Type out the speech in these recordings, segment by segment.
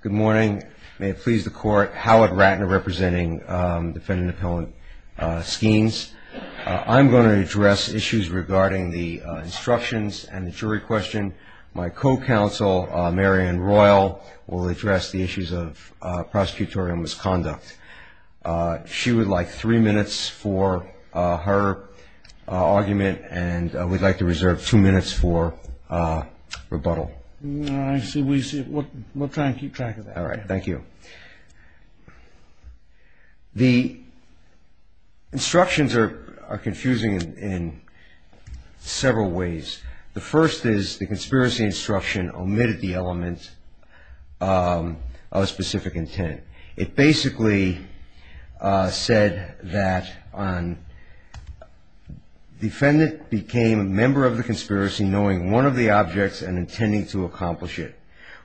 Good morning. May it please the court, Howard Ratner representing defendant-appellant Skeins. I'm going to address issues regarding the instructions and the jury question. My co-counsel, Marian Royal, will address the issues of prosecutorial misconduct. She would like three minutes for her argument, and we'd like to reserve two minutes for rebuttal. I see. We'll try and keep track of that. All right. Thank you. The instructions are confusing in several ways. The first is the conspiracy instruction omitted the element of a specific intent. It basically said that the defendant became a member of the conspiracy knowing one of the objects and intending to accomplish it,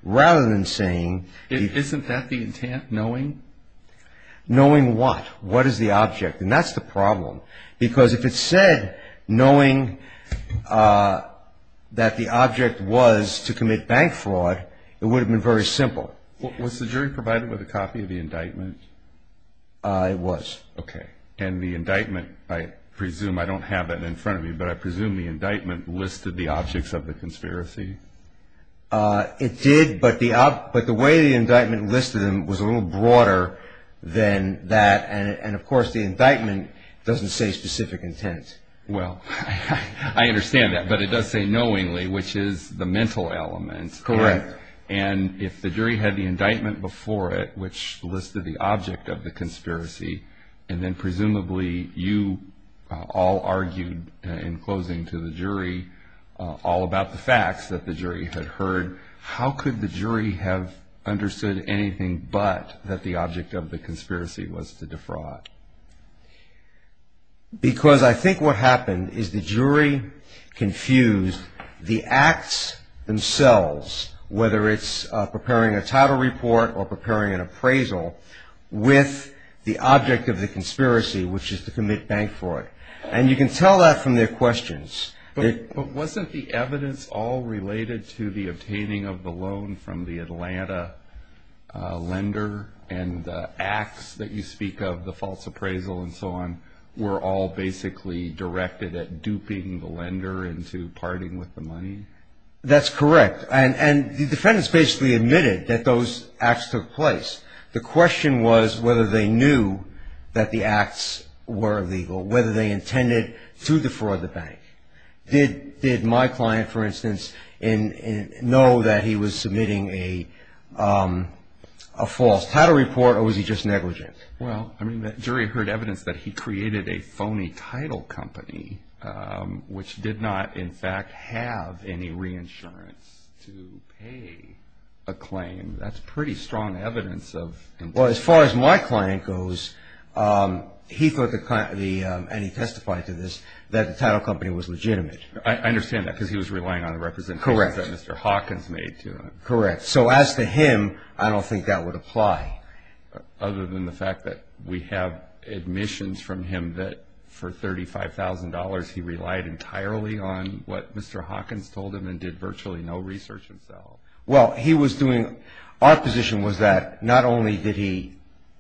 rather than saying... Isn't that the intent, knowing? Knowing what? What is the object? And that's the problem, because if it said knowing that the object was to commit bank fraud, it would have been very simple. Was the jury provided with a copy of the indictment? It was. Okay. And the indictment, I presume, I don't have it in front of me, but I presume the indictment listed the objects of the conspiracy? It did, but the way the indictment listed them was a little broader than that. And, of course, the indictment doesn't say specific intent. Well, I understand that, but it does say knowingly, which is the mental element. Correct. And if the jury had the indictment before it, which listed the object of the conspiracy, and then presumably you all argued in closing to the jury all about the facts that the jury had heard, how could the jury have understood anything but that the object of the conspiracy was to defraud? Because I think what happened is the jury confused the acts themselves, whether it's preparing a title report or preparing an appraisal, with the object of the conspiracy, which is to commit bank fraud. And you can tell that from their questions. But wasn't the evidence all related to the obtaining of the loan from the Atlanta lender and the acts that you speak of, the false appraisal and so on, were all basically directed at duping the lender into parting with the money? That's correct. And the defendants basically admitted that those acts took place. The question was whether they knew that the acts were illegal, whether they intended to defraud the bank. Did my client, for instance, know that he was submitting a false title report, or was he just negligent? Well, I mean, the jury heard evidence that he created a phony title company, which did not, in fact, have any reinsurance to pay a claim. That's pretty strong evidence of contempt. Well, as far as my client goes, he thought, and he testified to this, that the title company was legitimate. I understand that, because he was relying on the representation that Mr. Hawkins made to him. Correct. So as to him, I don't think that would apply. Other than the fact that we have admissions from him that for $35,000, he relied entirely on what Mr. Hawkins told him and did virtually no research himself. Well, he was doing – our position was that not only did he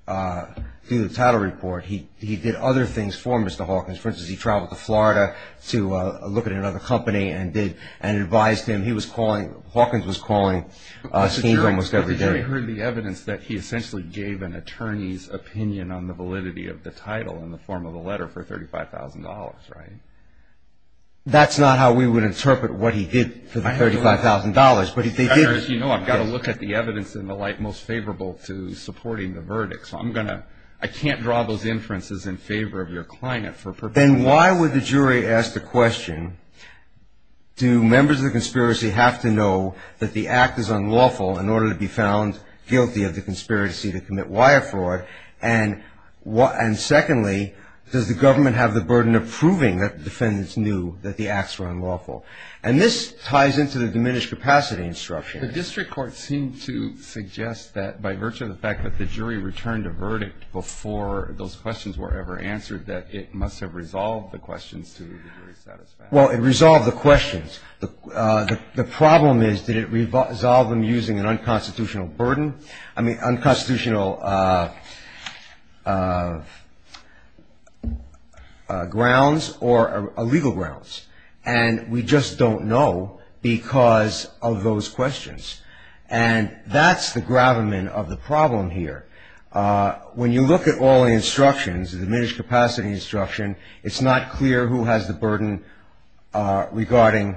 do the title report, he did other things for Mr. Hawkins. For instance, he traveled to Florida to look at another company and advised him. He was calling – Hawkins was calling schemes almost every day. The jury heard the evidence that he essentially gave an attorney's opinion on the validity of the title in the form of a letter for $35,000, right? That's not how we would interpret what he did for the $35,000, but they did – As you know, I've got to look at the evidence in the light most favorable to supporting the verdict. So I'm going to – I can't draw those inferences in favor of your client for purpose. Then why would the jury ask the question, do members of the conspiracy have to know that the act is unlawful in order to be found guilty of the conspiracy to commit wire fraud? And secondly, does the government have the burden of proving that the defendants knew that the acts were unlawful? And this ties into the diminished capacity instruction. The district court seemed to suggest that by virtue of the fact that the jury returned a verdict before those questions were ever answered, that it must have resolved the questions to the jury's satisfaction. Well, it resolved the questions. The problem is, did it resolve them using an unconstitutional burden – I mean, unconstitutional grounds or legal grounds? And we just don't know because of those questions. And that's the gravamen of the problem here. When you look at all the instructions, the diminished capacity instruction, it's not clear who has the burden regarding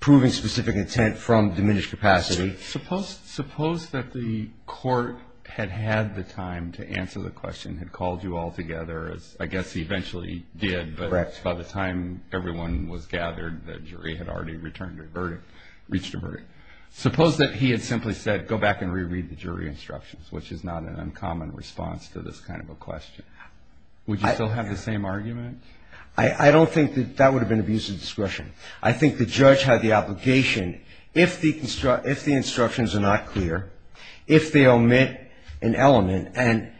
proving specific intent from diminished capacity. Suppose that the court had had the time to answer the question, had called you all together, as I guess he eventually did. Correct. But by the time everyone was gathered, the jury had already returned a verdict, reached a verdict. Suppose that he had simply said, go back and reread the jury instructions, which is not an uncommon response to this kind of a question. Would you still have the same argument? I don't think that that would have been abuse of discretion. I think the judge had the obligation, if the instructions are not clear, if they omit an element, and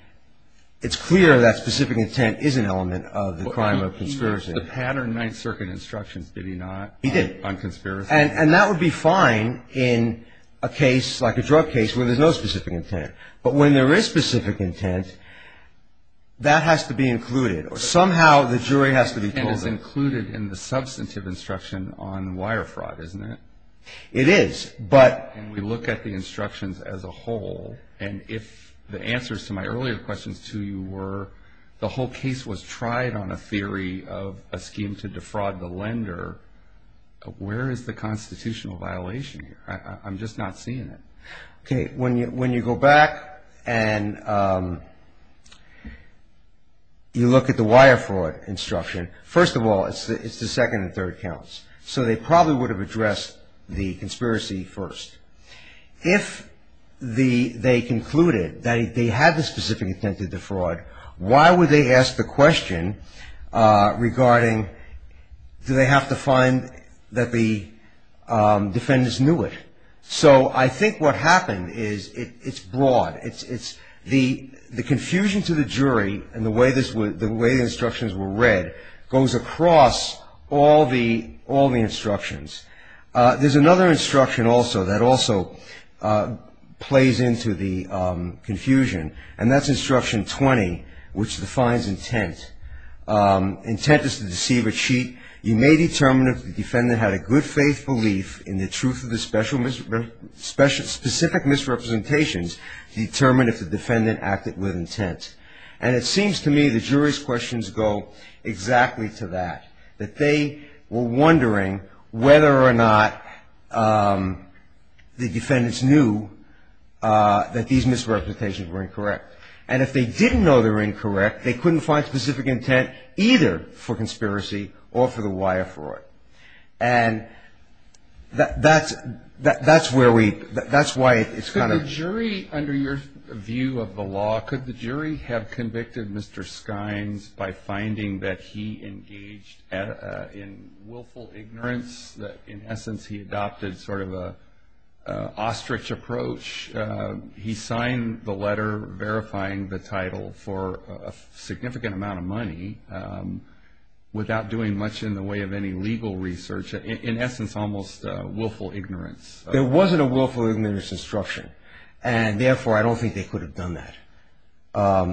it's clear that specific intent is an element of the crime of conspiracy. He reversed the pattern Ninth Circuit instructions, did he not, on conspiracy? He did. And that would be fine in a case like a drug case where there's no specific intent. But when there is specific intent, that has to be included. Somehow the jury has to be told that. Specific intent is included in the substantive instruction on wire fraud, isn't it? It is. But we look at the instructions as a whole, and if the answers to my earlier questions to you were, the whole case was tried on a theory of a scheme to defraud the lender, where is the constitutional violation here? I'm just not seeing it. Okay. When you go back and you look at the wire fraud instruction, first of all, it's the second and third counts. So they probably would have addressed the conspiracy first. If they concluded that they had the specific intent to defraud, why would they ask the question regarding do they have to find that the defendants knew it? So I think what happened is it's broad. The confusion to the jury and the way the instructions were read goes across all the instructions. There's another instruction also that also plays into the confusion, and that's instruction 20, which defines intent. Intent is to deceive or cheat. You may determine if the defendant had a good faith belief in the truth of the specific misrepresentations to determine if the defendant acted with intent. And it seems to me the jury's questions go exactly to that, that they were wondering whether or not the defendants knew that these misrepresentations were incorrect. And if they didn't know they were incorrect, they couldn't find specific intent either for conspiracy or for the wire fraud. And that's where we — that's why it's kind of — Could the jury, under your view of the law, could the jury have convicted Mr. Skines by finding that he engaged in willful ignorance, that in essence he adopted sort of an ostrich approach? He signed the letter verifying the title for a significant amount of money without doing much in the way of any legal research, in essence almost willful ignorance. There wasn't a willful ignorance instruction, and therefore I don't think they could have done that.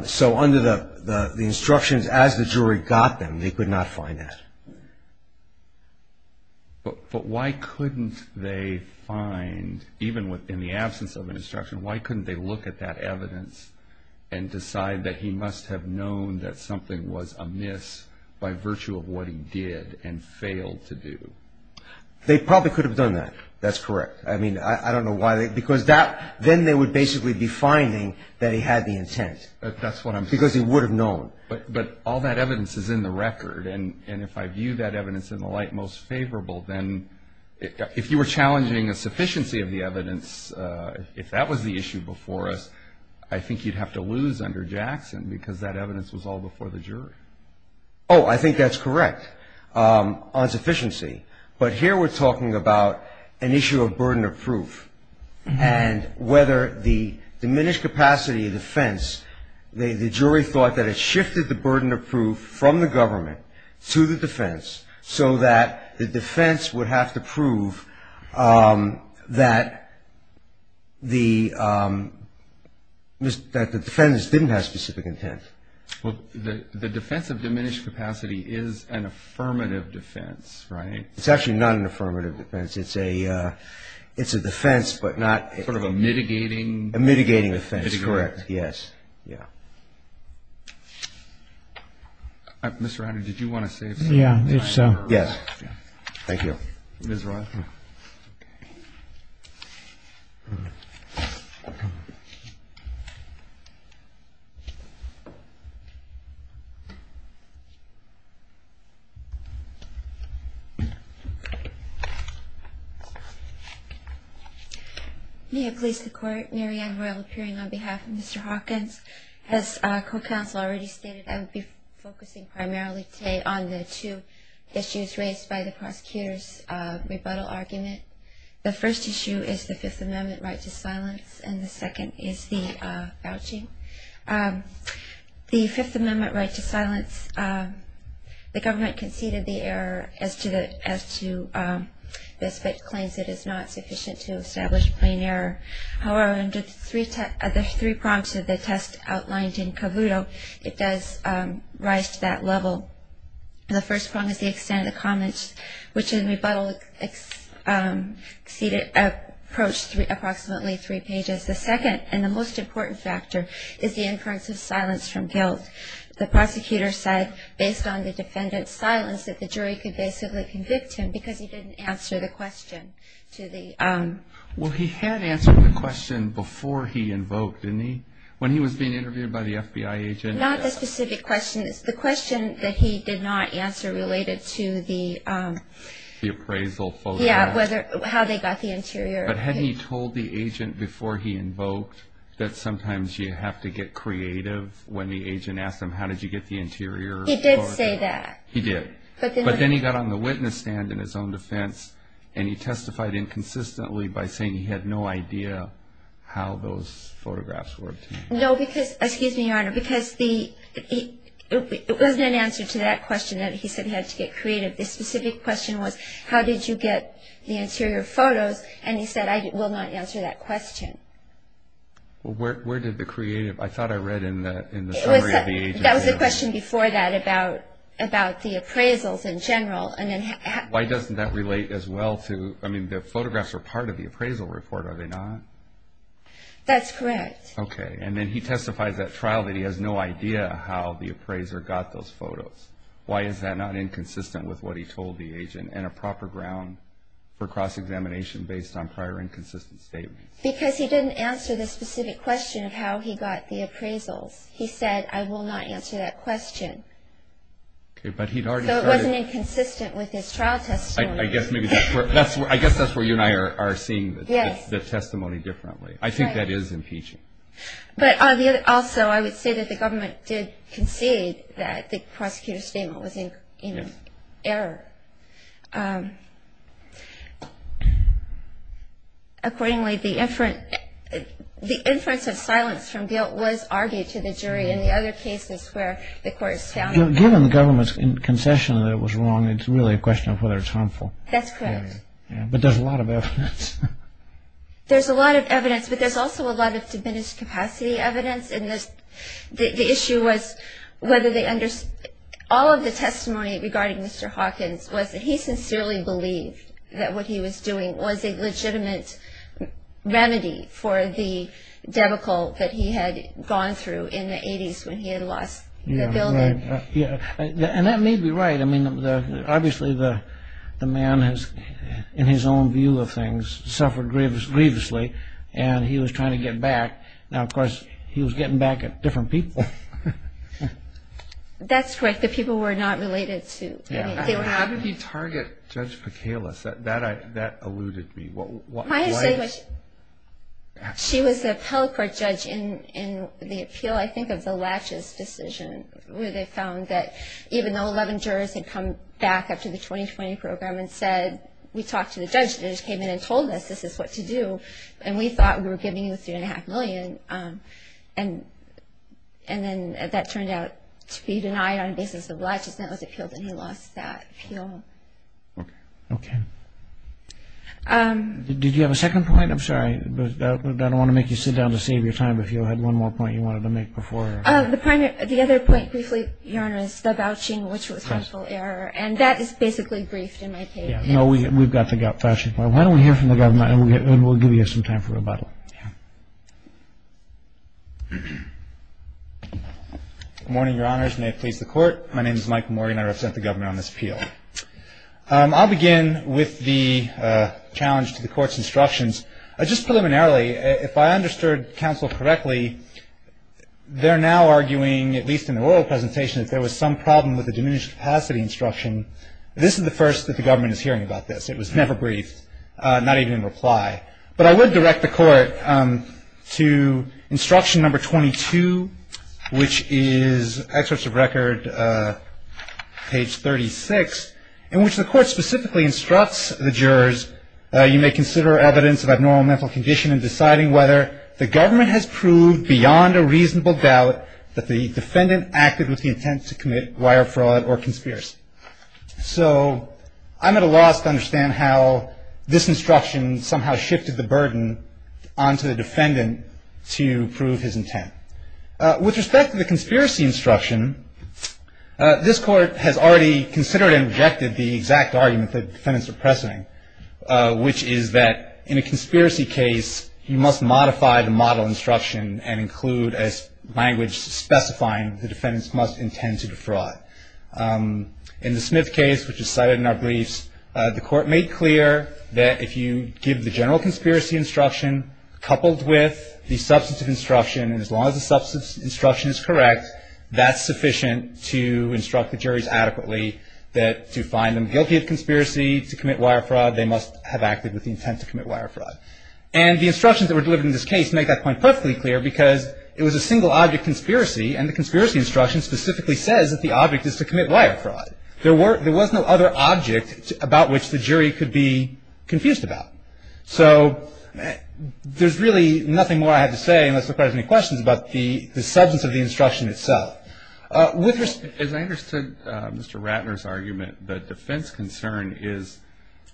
So under the instructions as the jury got them, they could not find that. But why couldn't they find, even in the absence of an instruction, why couldn't they look at that evidence and decide that he must have known that something was amiss by virtue of what he did and failed to do? They probably could have done that. That's correct. I mean, I don't know why they — because then they would basically be finding that he had the intent. That's what I'm saying. Because he would have known. But all that evidence is in the record. And if I view that evidence in the light most favorable, then if you were challenging a sufficiency of the evidence, if that was the issue before us, I think you'd have to lose under Jackson because that evidence was all before the jury. Oh, I think that's correct on sufficiency. But here we're talking about an issue of burden of proof and whether the diminished capacity of defense, the jury thought that it shifted the burden of proof from the government to the defense so that the defense would have to prove that the defendants didn't have specific intent. Well, the defense of diminished capacity is an affirmative defense, right? It's actually not an affirmative defense. It's a defense but not — Sort of a mitigating — A mitigating defense. It's correct, yes. Yeah. Mr. Henry, did you want to say something? Yeah, if so. Yes. Thank you. Ms. Rothman. May it please the Court. Mary Ann Royal appearing on behalf of Mr. Hawkins. As co-counsel already stated, I will be focusing primarily today on the two issues raised by the prosecutor's rebuttal argument. The first issue is the Fifth Amendment right to silence, and the second is the vouching. The Fifth Amendment right to silence, the government conceded the error as to the right to silence but claims it is not sufficient to establish plain error. However, under the three prompts of the test outlined in Cavuto, it does rise to that level. The first prompt is the extent of the comments, which in rebuttal approached approximately three pages. The second and the most important factor is the inference of silence from guilt. The prosecutor said, based on the defendant's silence, that the jury could basically convict him because he didn't answer the question. Well, he had answered the question before he invoked, didn't he, when he was being interviewed by the FBI agent? Not the specific question. It's the question that he did not answer related to the appraisal photograph. Yeah, how they got the interior. But hadn't he told the agent before he invoked that sometimes you have to get creative when the agent asked him, how did you get the interior? He did say that. He did. But then he got on the witness stand in his own defense, and he testified inconsistently by saying he had no idea how those photographs were obtained. No, because, excuse me, Your Honor, because it wasn't an answer to that question that he said he had to get creative. The specific question was, how did you get the interior photos? And he said, I will not answer that question. Well, where did the creative, I thought I read in the summary of the agency. That was the question before that about the appraisals in general. Why doesn't that relate as well to, I mean, the photographs are part of the appraisal report, are they not? That's correct. Okay, and then he testifies at trial that he has no idea how the appraiser got those photos. Why is that not inconsistent with what he told the agent and a proper ground for cross-examination based on prior inconsistent statements? Because he didn't answer the specific question of how he got the appraisals. He said, I will not answer that question. Okay, but he'd already said it. So it wasn't inconsistent with his trial testimony. I guess that's where you and I are seeing the testimony differently. I think that is impeaching. Also, I would say that the government did concede that the prosecutor's statement was in error. Accordingly, the inference of silence from guilt was argued to the jury in the other cases where the court has found it. Given the government's concession that it was wrong, it's really a question of whether it's harmful. That's correct. But there's a lot of evidence. There's a lot of evidence, but there's also a lot of diminished capacity evidence. All of the testimony regarding Mr. Hawkins was that he sincerely believed that what he was doing was a legitimate remedy for the debacle that he had gone through in the 80s when he had lost the building. Yeah, and that may be right. Obviously, the man has, in his own view of things, suffered grievously, and he was trying to get back. Now, of course, he was getting back at different people. That's correct. The people were not related to him. How did he target Judge Pekelas? That alluded to me. She was the appellate court judge in the appeal, I think, of the Latches decision, where they found that even though 11 jurors had come back after the 2020 program and said, we talked to the judge that just came in and told us this is what to do, and we thought we were giving you $3.5 million, and then that turned out to be denied on the basis of Latches, and that was appealed, and he lost that appeal. Okay. Did you have a second point? I'm sorry, but I don't want to make you sit down to save your time. If you had one more point you wanted to make before. The other point, briefly, Your Honor, is the vouching, which was harmful error, and that is basically briefed in my case. Yeah. No, we've got the voucher. Why don't we hear from the Governor, and we'll give you some time for rebuttal. Yeah. Good morning, Your Honors. May it please the Court. My name is Mike Morgan. I represent the Governor on this appeal. I'll begin with the challenge to the Court's instructions. Just preliminarily, if I understood counsel correctly, they're now arguing, at least in the oral presentation, that there was some problem with the diminished capacity instruction. This is the first that the Government is hearing about this. It was never briefed, not even in reply. But I would direct the Court to instruction number 22, which is excerpts of record, page 36, in which the Court specifically instructs the jurors, you may consider evidence of abnormal mental condition in deciding whether the Government has proved beyond a reasonable doubt that the defendant acted with the intent to commit wire fraud or conspiracy. So I'm at a loss to understand how this instruction somehow shifted the burden onto the defendant to prove his intent. With respect to the conspiracy instruction, this Court has already considered and rejected the exact argument the defendants are pressing, which is that in a conspiracy case, you must modify the model instruction and include a language specifying the defendants must intend to defraud. In the Smith case, which is cited in our briefs, the Court made clear that if you give the general conspiracy instruction, coupled with the substantive instruction, and as long as the substantive instruction is correct, that's sufficient to instruct the juries adequately that to find them guilty of conspiracy to commit wire fraud, they must have acted with the intent to commit wire fraud. And the instructions that were delivered in this case make that point perfectly clear because it was a single-object conspiracy, and the conspiracy instruction specifically says that the object is to commit wire fraud. There was no other object about which the jury could be confused about. So there's really nothing more I have to say, unless the Court has any questions about the substance of the instruction itself. As I understood Mr. Ratner's argument, the defense concern is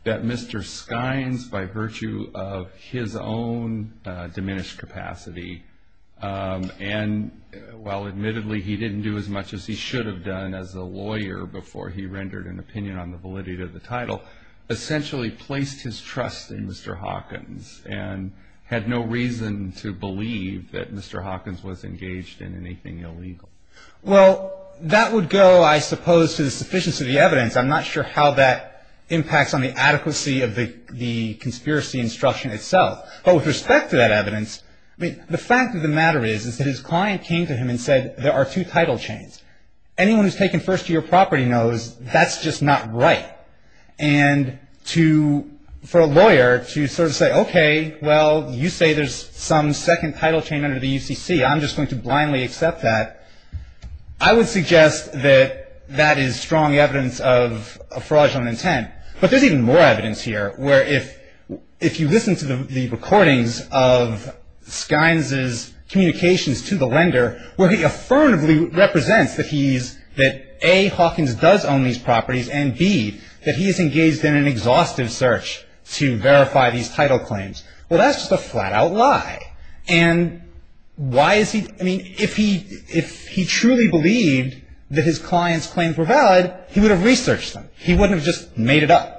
that Mr. Skynes, by virtue of his own diminished capacity, and while admittedly he didn't do as much as he should have done as a lawyer before he rendered an opinion on the validity of the title, essentially placed his trust in Mr. Hawkins and had no reason to believe that Mr. Hawkins was engaged in anything illegal. Well, that would go, I suppose, to the sufficiency of the evidence. I'm not sure how that impacts on the adequacy of the conspiracy instruction itself. But with respect to that evidence, the fact of the matter is that his client came to him and said, there are two title chains. Anyone who's taken first to your property knows that's just not right. And for a lawyer to sort of say, okay, well, you say there's some second title chain under the UCC. I'm just going to blindly accept that. I would suggest that that is strong evidence of a fraudulent intent. But there's even more evidence here, where if you listen to the recordings of Skynes' communications to the lender, where he affirmatively represents that A, Hawkins does own these properties and B, that he is engaged in an exhaustive search to verify these title claims. Well, that's just a flat-out lie. And why is he – I mean, if he truly believed that his client's claims were valid, he would have researched them. He wouldn't have just made it up.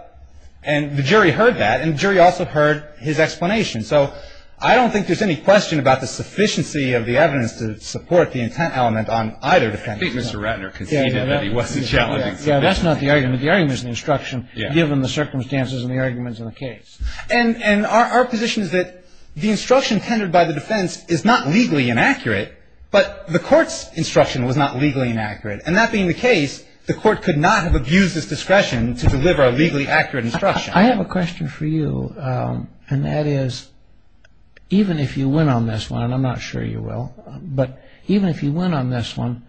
And the jury heard that, and the jury also heard his explanation. So I don't think there's any question about the sufficiency of the evidence to support the intent element on either defendant. I think Mr. Ratner conceded that he wasn't challenging sufficiency. Yeah, that's not the argument. The argument is the instruction given the circumstances and the arguments in the case. And our position is that the instruction tended by the defense is not legally inaccurate, but the court's instruction was not legally inaccurate. And that being the case, the court could not have abused its discretion to deliver a legally accurate instruction. I have a question for you, and that is, even if you win on this one, and I'm not sure you will, but even if you win on this one,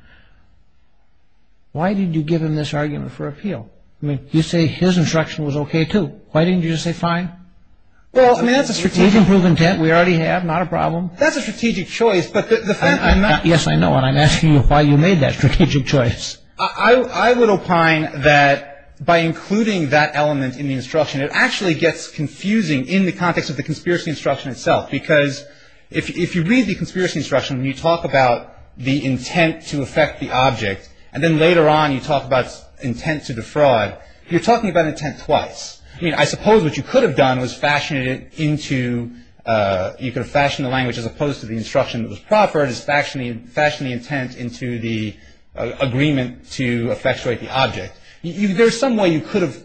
why did you give him this argument for appeal? I mean, you say his instruction was okay, too. Why didn't you just say fine? Well, I mean, that's a strategic – We've improved intent. We already have. Not a problem. That's a strategic choice, but the fact – Yes, I know. And I'm asking you why you made that strategic choice. I would opine that by including that element in the instruction, it actually gets confusing in the context of the conspiracy instruction itself. Because if you read the conspiracy instruction and you talk about the intent to affect the object, and then later on you talk about intent to defraud, you're talking about intent twice. I mean, I suppose what you could have done was fashioned it into – you could have fashioned the language as opposed to the instruction that was proffered, is fashioned the intent into the agreement to effectuate the object. There's some way you could have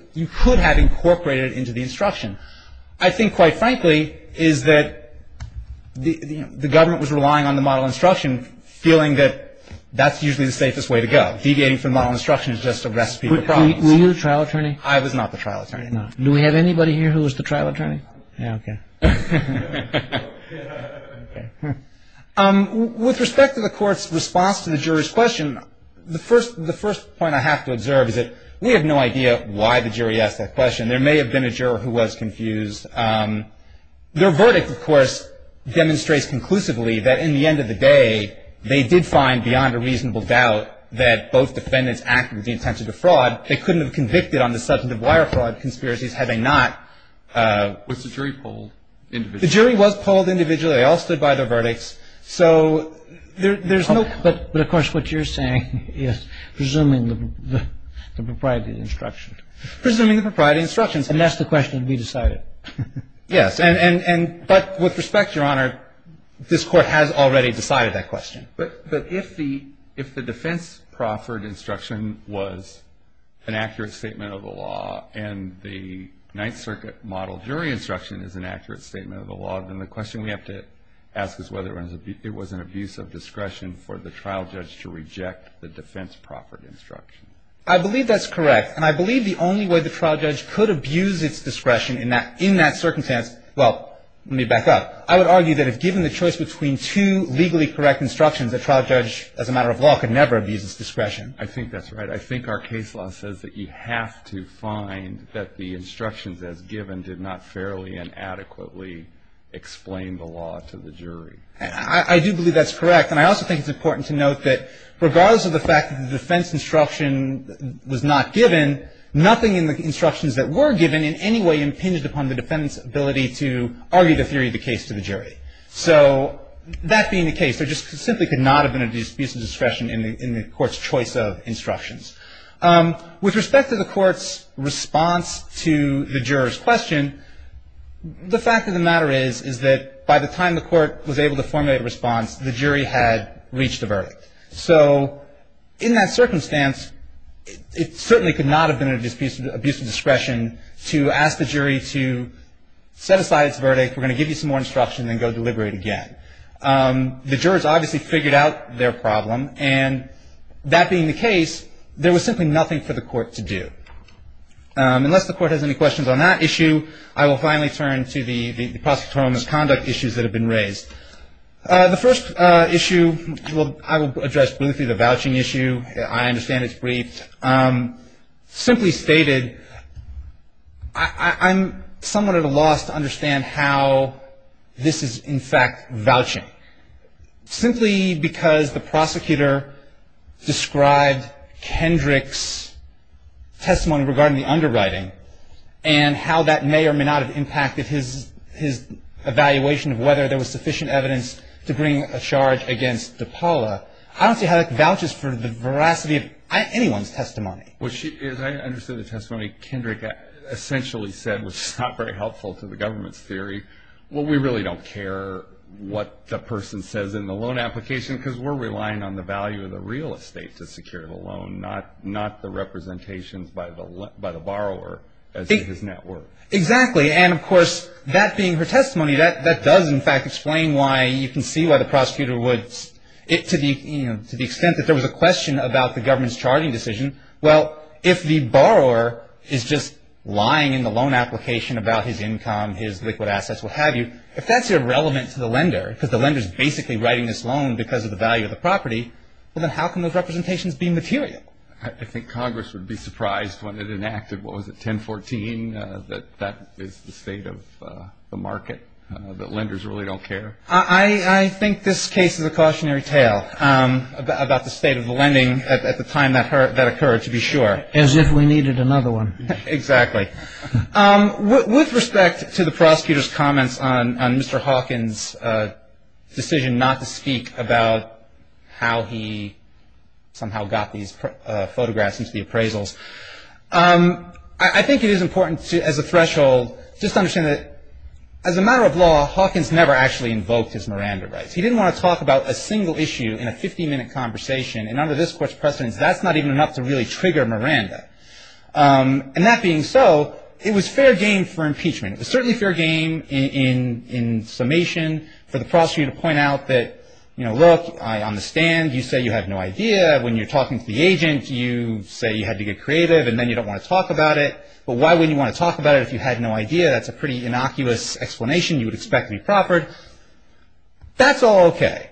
incorporated it into the instruction. I think, quite frankly, is that the government was relying on the model instruction, feeling that that's usually the safest way to go. Deviating from the model instruction is just a recipe for problems. Were you the trial attorney? I was not the trial attorney. No. Do we have anybody here who was the trial attorney? Yeah, okay. With respect to the court's response to the jury's question, the first point I have to observe is that we have no idea why the jury asked that question. There may have been a juror who was confused. Their verdict, of course, demonstrates conclusively that in the end of the day, they did find beyond a reasonable doubt that both defendants acted with the intent to defraud. They couldn't have convicted on the substantive wire fraud conspiracies had they not. Was the jury polled individually? The jury was polled individually. They all stood by their verdicts. So there's no – But, of course, what you're saying is presuming the propriety of the instruction. Presuming the propriety of the instruction. And that's the question to be decided. Yes. But with respect, Your Honor, this Court has already decided that question. But if the defense proffered instruction was an accurate statement of the law and the Ninth Circuit model jury instruction is an accurate statement of the law, then the question we have to ask is whether it was an abuse of discretion for the trial judge to reject the defense proffered instruction. I believe that's correct. And I believe the only way the trial judge could abuse its discretion in that circumstance – well, let me back up. I would argue that if given the choice between two legally correct instructions, a trial judge, as a matter of law, could never abuse its discretion. I think that's right. I think our case law says that you have to find that the instructions as given did not fairly and adequately explain the law to the jury. I do believe that's correct. And I also think it's important to note that regardless of the fact that the defense instruction was not given, nothing in the instructions that were given in any way impinged upon the defendant's ability to argue the theory of the case to the jury. So that being the case, there just simply could not have been an abuse of discretion in the Court's choice of instructions. With respect to the Court's response to the juror's question, the fact of the matter is is that by the time the Court was able to formulate a response, the jury had reached a verdict. So in that circumstance, it certainly could not have been an abuse of discretion to ask the jury to set aside its verdict, we're going to give you some more instruction, then go deliberate again. The jurors obviously figured out their problem. And that being the case, there was simply nothing for the Court to do. Unless the Court has any questions on that issue, I will finally turn to the prosecutorial misconduct issues that have been raised. The first issue I will address briefly, the vouching issue. I understand it's brief. Simply stated, I'm somewhat at a loss to understand how this is in fact vouching. Simply because the prosecutor described Kendrick's testimony regarding the underwriting and how that may or may not have impacted his evaluation of whether there was sufficient evidence to bring a charge against DePaula. I don't see how that vouches for the veracity of anyone's testimony. As I understood the testimony, Kendrick essentially said, which is not very helpful to the government's theory, well, we really don't care what the person says in the loan application because we're relying on the value of the real estate to secure the loan, not the representations by the borrower as to his net worth. Exactly. And of course, that being her testimony, that does in fact explain why you can see why the prosecutor would, to the extent that there was a question about the government's charging decision, well, if the borrower is just lying in the loan application about his income, his liquid assets, what have you, if that's irrelevant to the lender, because the lender is basically writing this loan because of the value of the property, well then how can those representations be material? I think Congress would be surprised when it enacted, what was it, 1014, that that is the state of the market, that lenders really don't care. I think this case is a cautionary tale about the state of the lending at the time that occurred, to be sure. As if we needed another one. Exactly. With respect to the prosecutor's comments on Mr. Hawkins' decision not to speak about how he somehow got these photographs into the appraisals, I think it is important to, as a threshold, just understand that as a matter of law, Hawkins never actually invoked his Miranda rights. He didn't want to talk about a single issue in a 50-minute conversation, and under this Court's precedence, that's not even enough to really trigger Miranda. And that being so, it was fair game for impeachment. It was certainly fair game in summation for the prosecutor to point out that, look, I understand you say you have no idea when you're talking to the agent, you say you had to get creative and then you don't want to talk about it, but why wouldn't you want to talk about it if you had no idea? That's a pretty innocuous explanation you would expect to be proffered. That's all okay.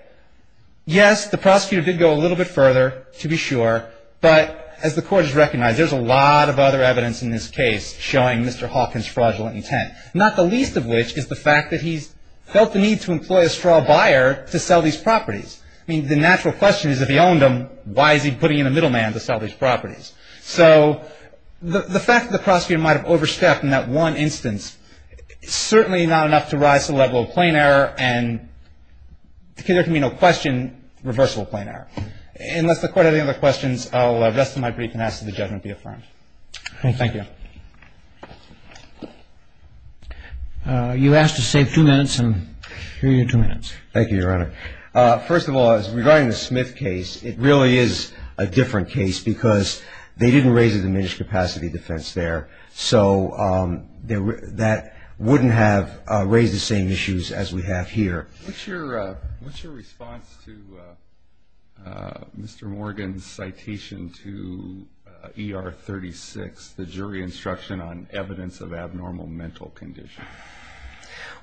Yes, the prosecutor did go a little bit further, to be sure, but as the Court has recognized, there's a lot of other evidence in this case showing Mr. Hawkins' fraudulent intent, not the least of which is the fact that he's felt the need to employ a straw buyer to sell these properties. I mean, the natural question is, if he owned them, why is he putting in a middleman to sell these properties? So the fact that the prosecutor might have overstepped in that one instance is certainly not enough to rise to the level of plain error and there can be no question, reversible plain error, unless the Court has any other questions, the rest of my brief can ask that the judgment be affirmed. Thank you. You asked to save two minutes and here are your two minutes. Thank you, Your Honor. First of all, regarding the Smith case, it really is a different case because they didn't raise a diminished capacity defense there, so that wouldn't have raised the same issues as we have here. What's your response to Mr. Morgan's citation to ER 36, the jury instruction on evidence of abnormal mental condition?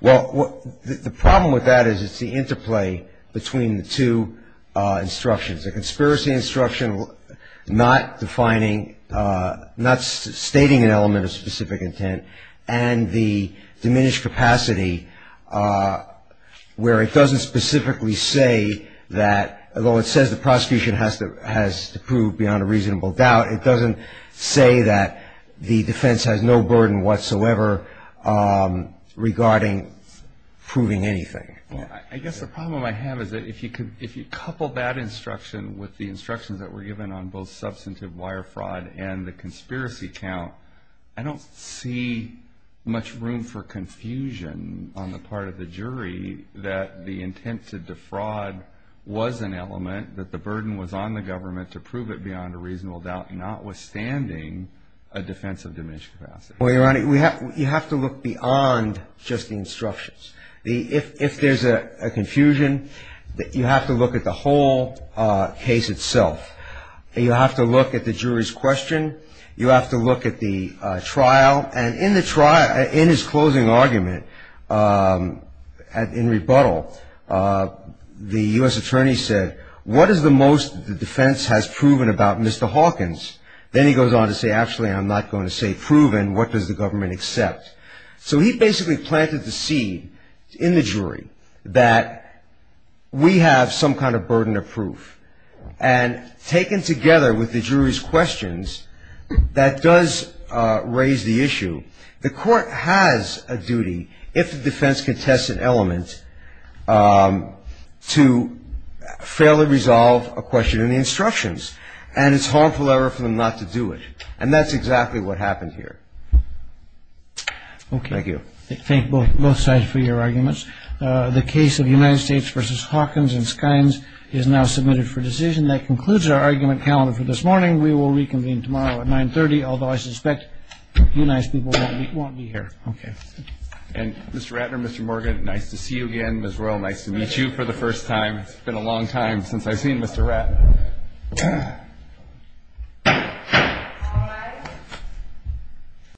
Well, the problem with that is it's the interplay between the two instructions, the conspiracy instruction not defining, not stating an element of specific intent, and the diminished capacity where it doesn't specifically say that, although it says the prosecution has to prove beyond a reasonable doubt, it doesn't say that the defense has no burden whatsoever regarding proving anything. I guess the problem I have is that if you couple that instruction with the instructions that were given on both substantive wire fraud and the conspiracy count, I don't see much room for confusion on the part of the jury that the intent to defraud was an element, that the burden was on the government to prove it beyond a reasonable doubt, notwithstanding a defense of diminished capacity. Well, Your Honor, you have to look beyond just the instructions. If there's a confusion, you have to look at the whole case itself. You have to look at the jury's question. You have to look at the trial. And in the trial, in his closing argument, in rebuttal, the U.S. attorney said, what is the most the defense has proven about Mr. Hawkins? Then he goes on to say, actually, I'm not going to say proven. What does the government accept? So he basically planted the seed in the jury that we have some kind of burden of proof. And taken together with the jury's questions, that does raise the issue. The court has a duty, if the defense contests an element, to fairly resolve a question in the instructions. And it's harmful error for them not to do it. And that's exactly what happened here. Thank you. Okay. Thank both sides for your arguments. The case of United States v. Hawkins and Skynes is now submitted for decision. That concludes our argument calendar for this morning. We will reconvene tomorrow at 930, although I suspect you nice people won't be here. Okay. And, Mr. Ratner, Mr. Morgan, nice to see you again. Ms. Royal, nice to meet you for the first time. It's been a long time since I've seen Mr. Ratner. All rise.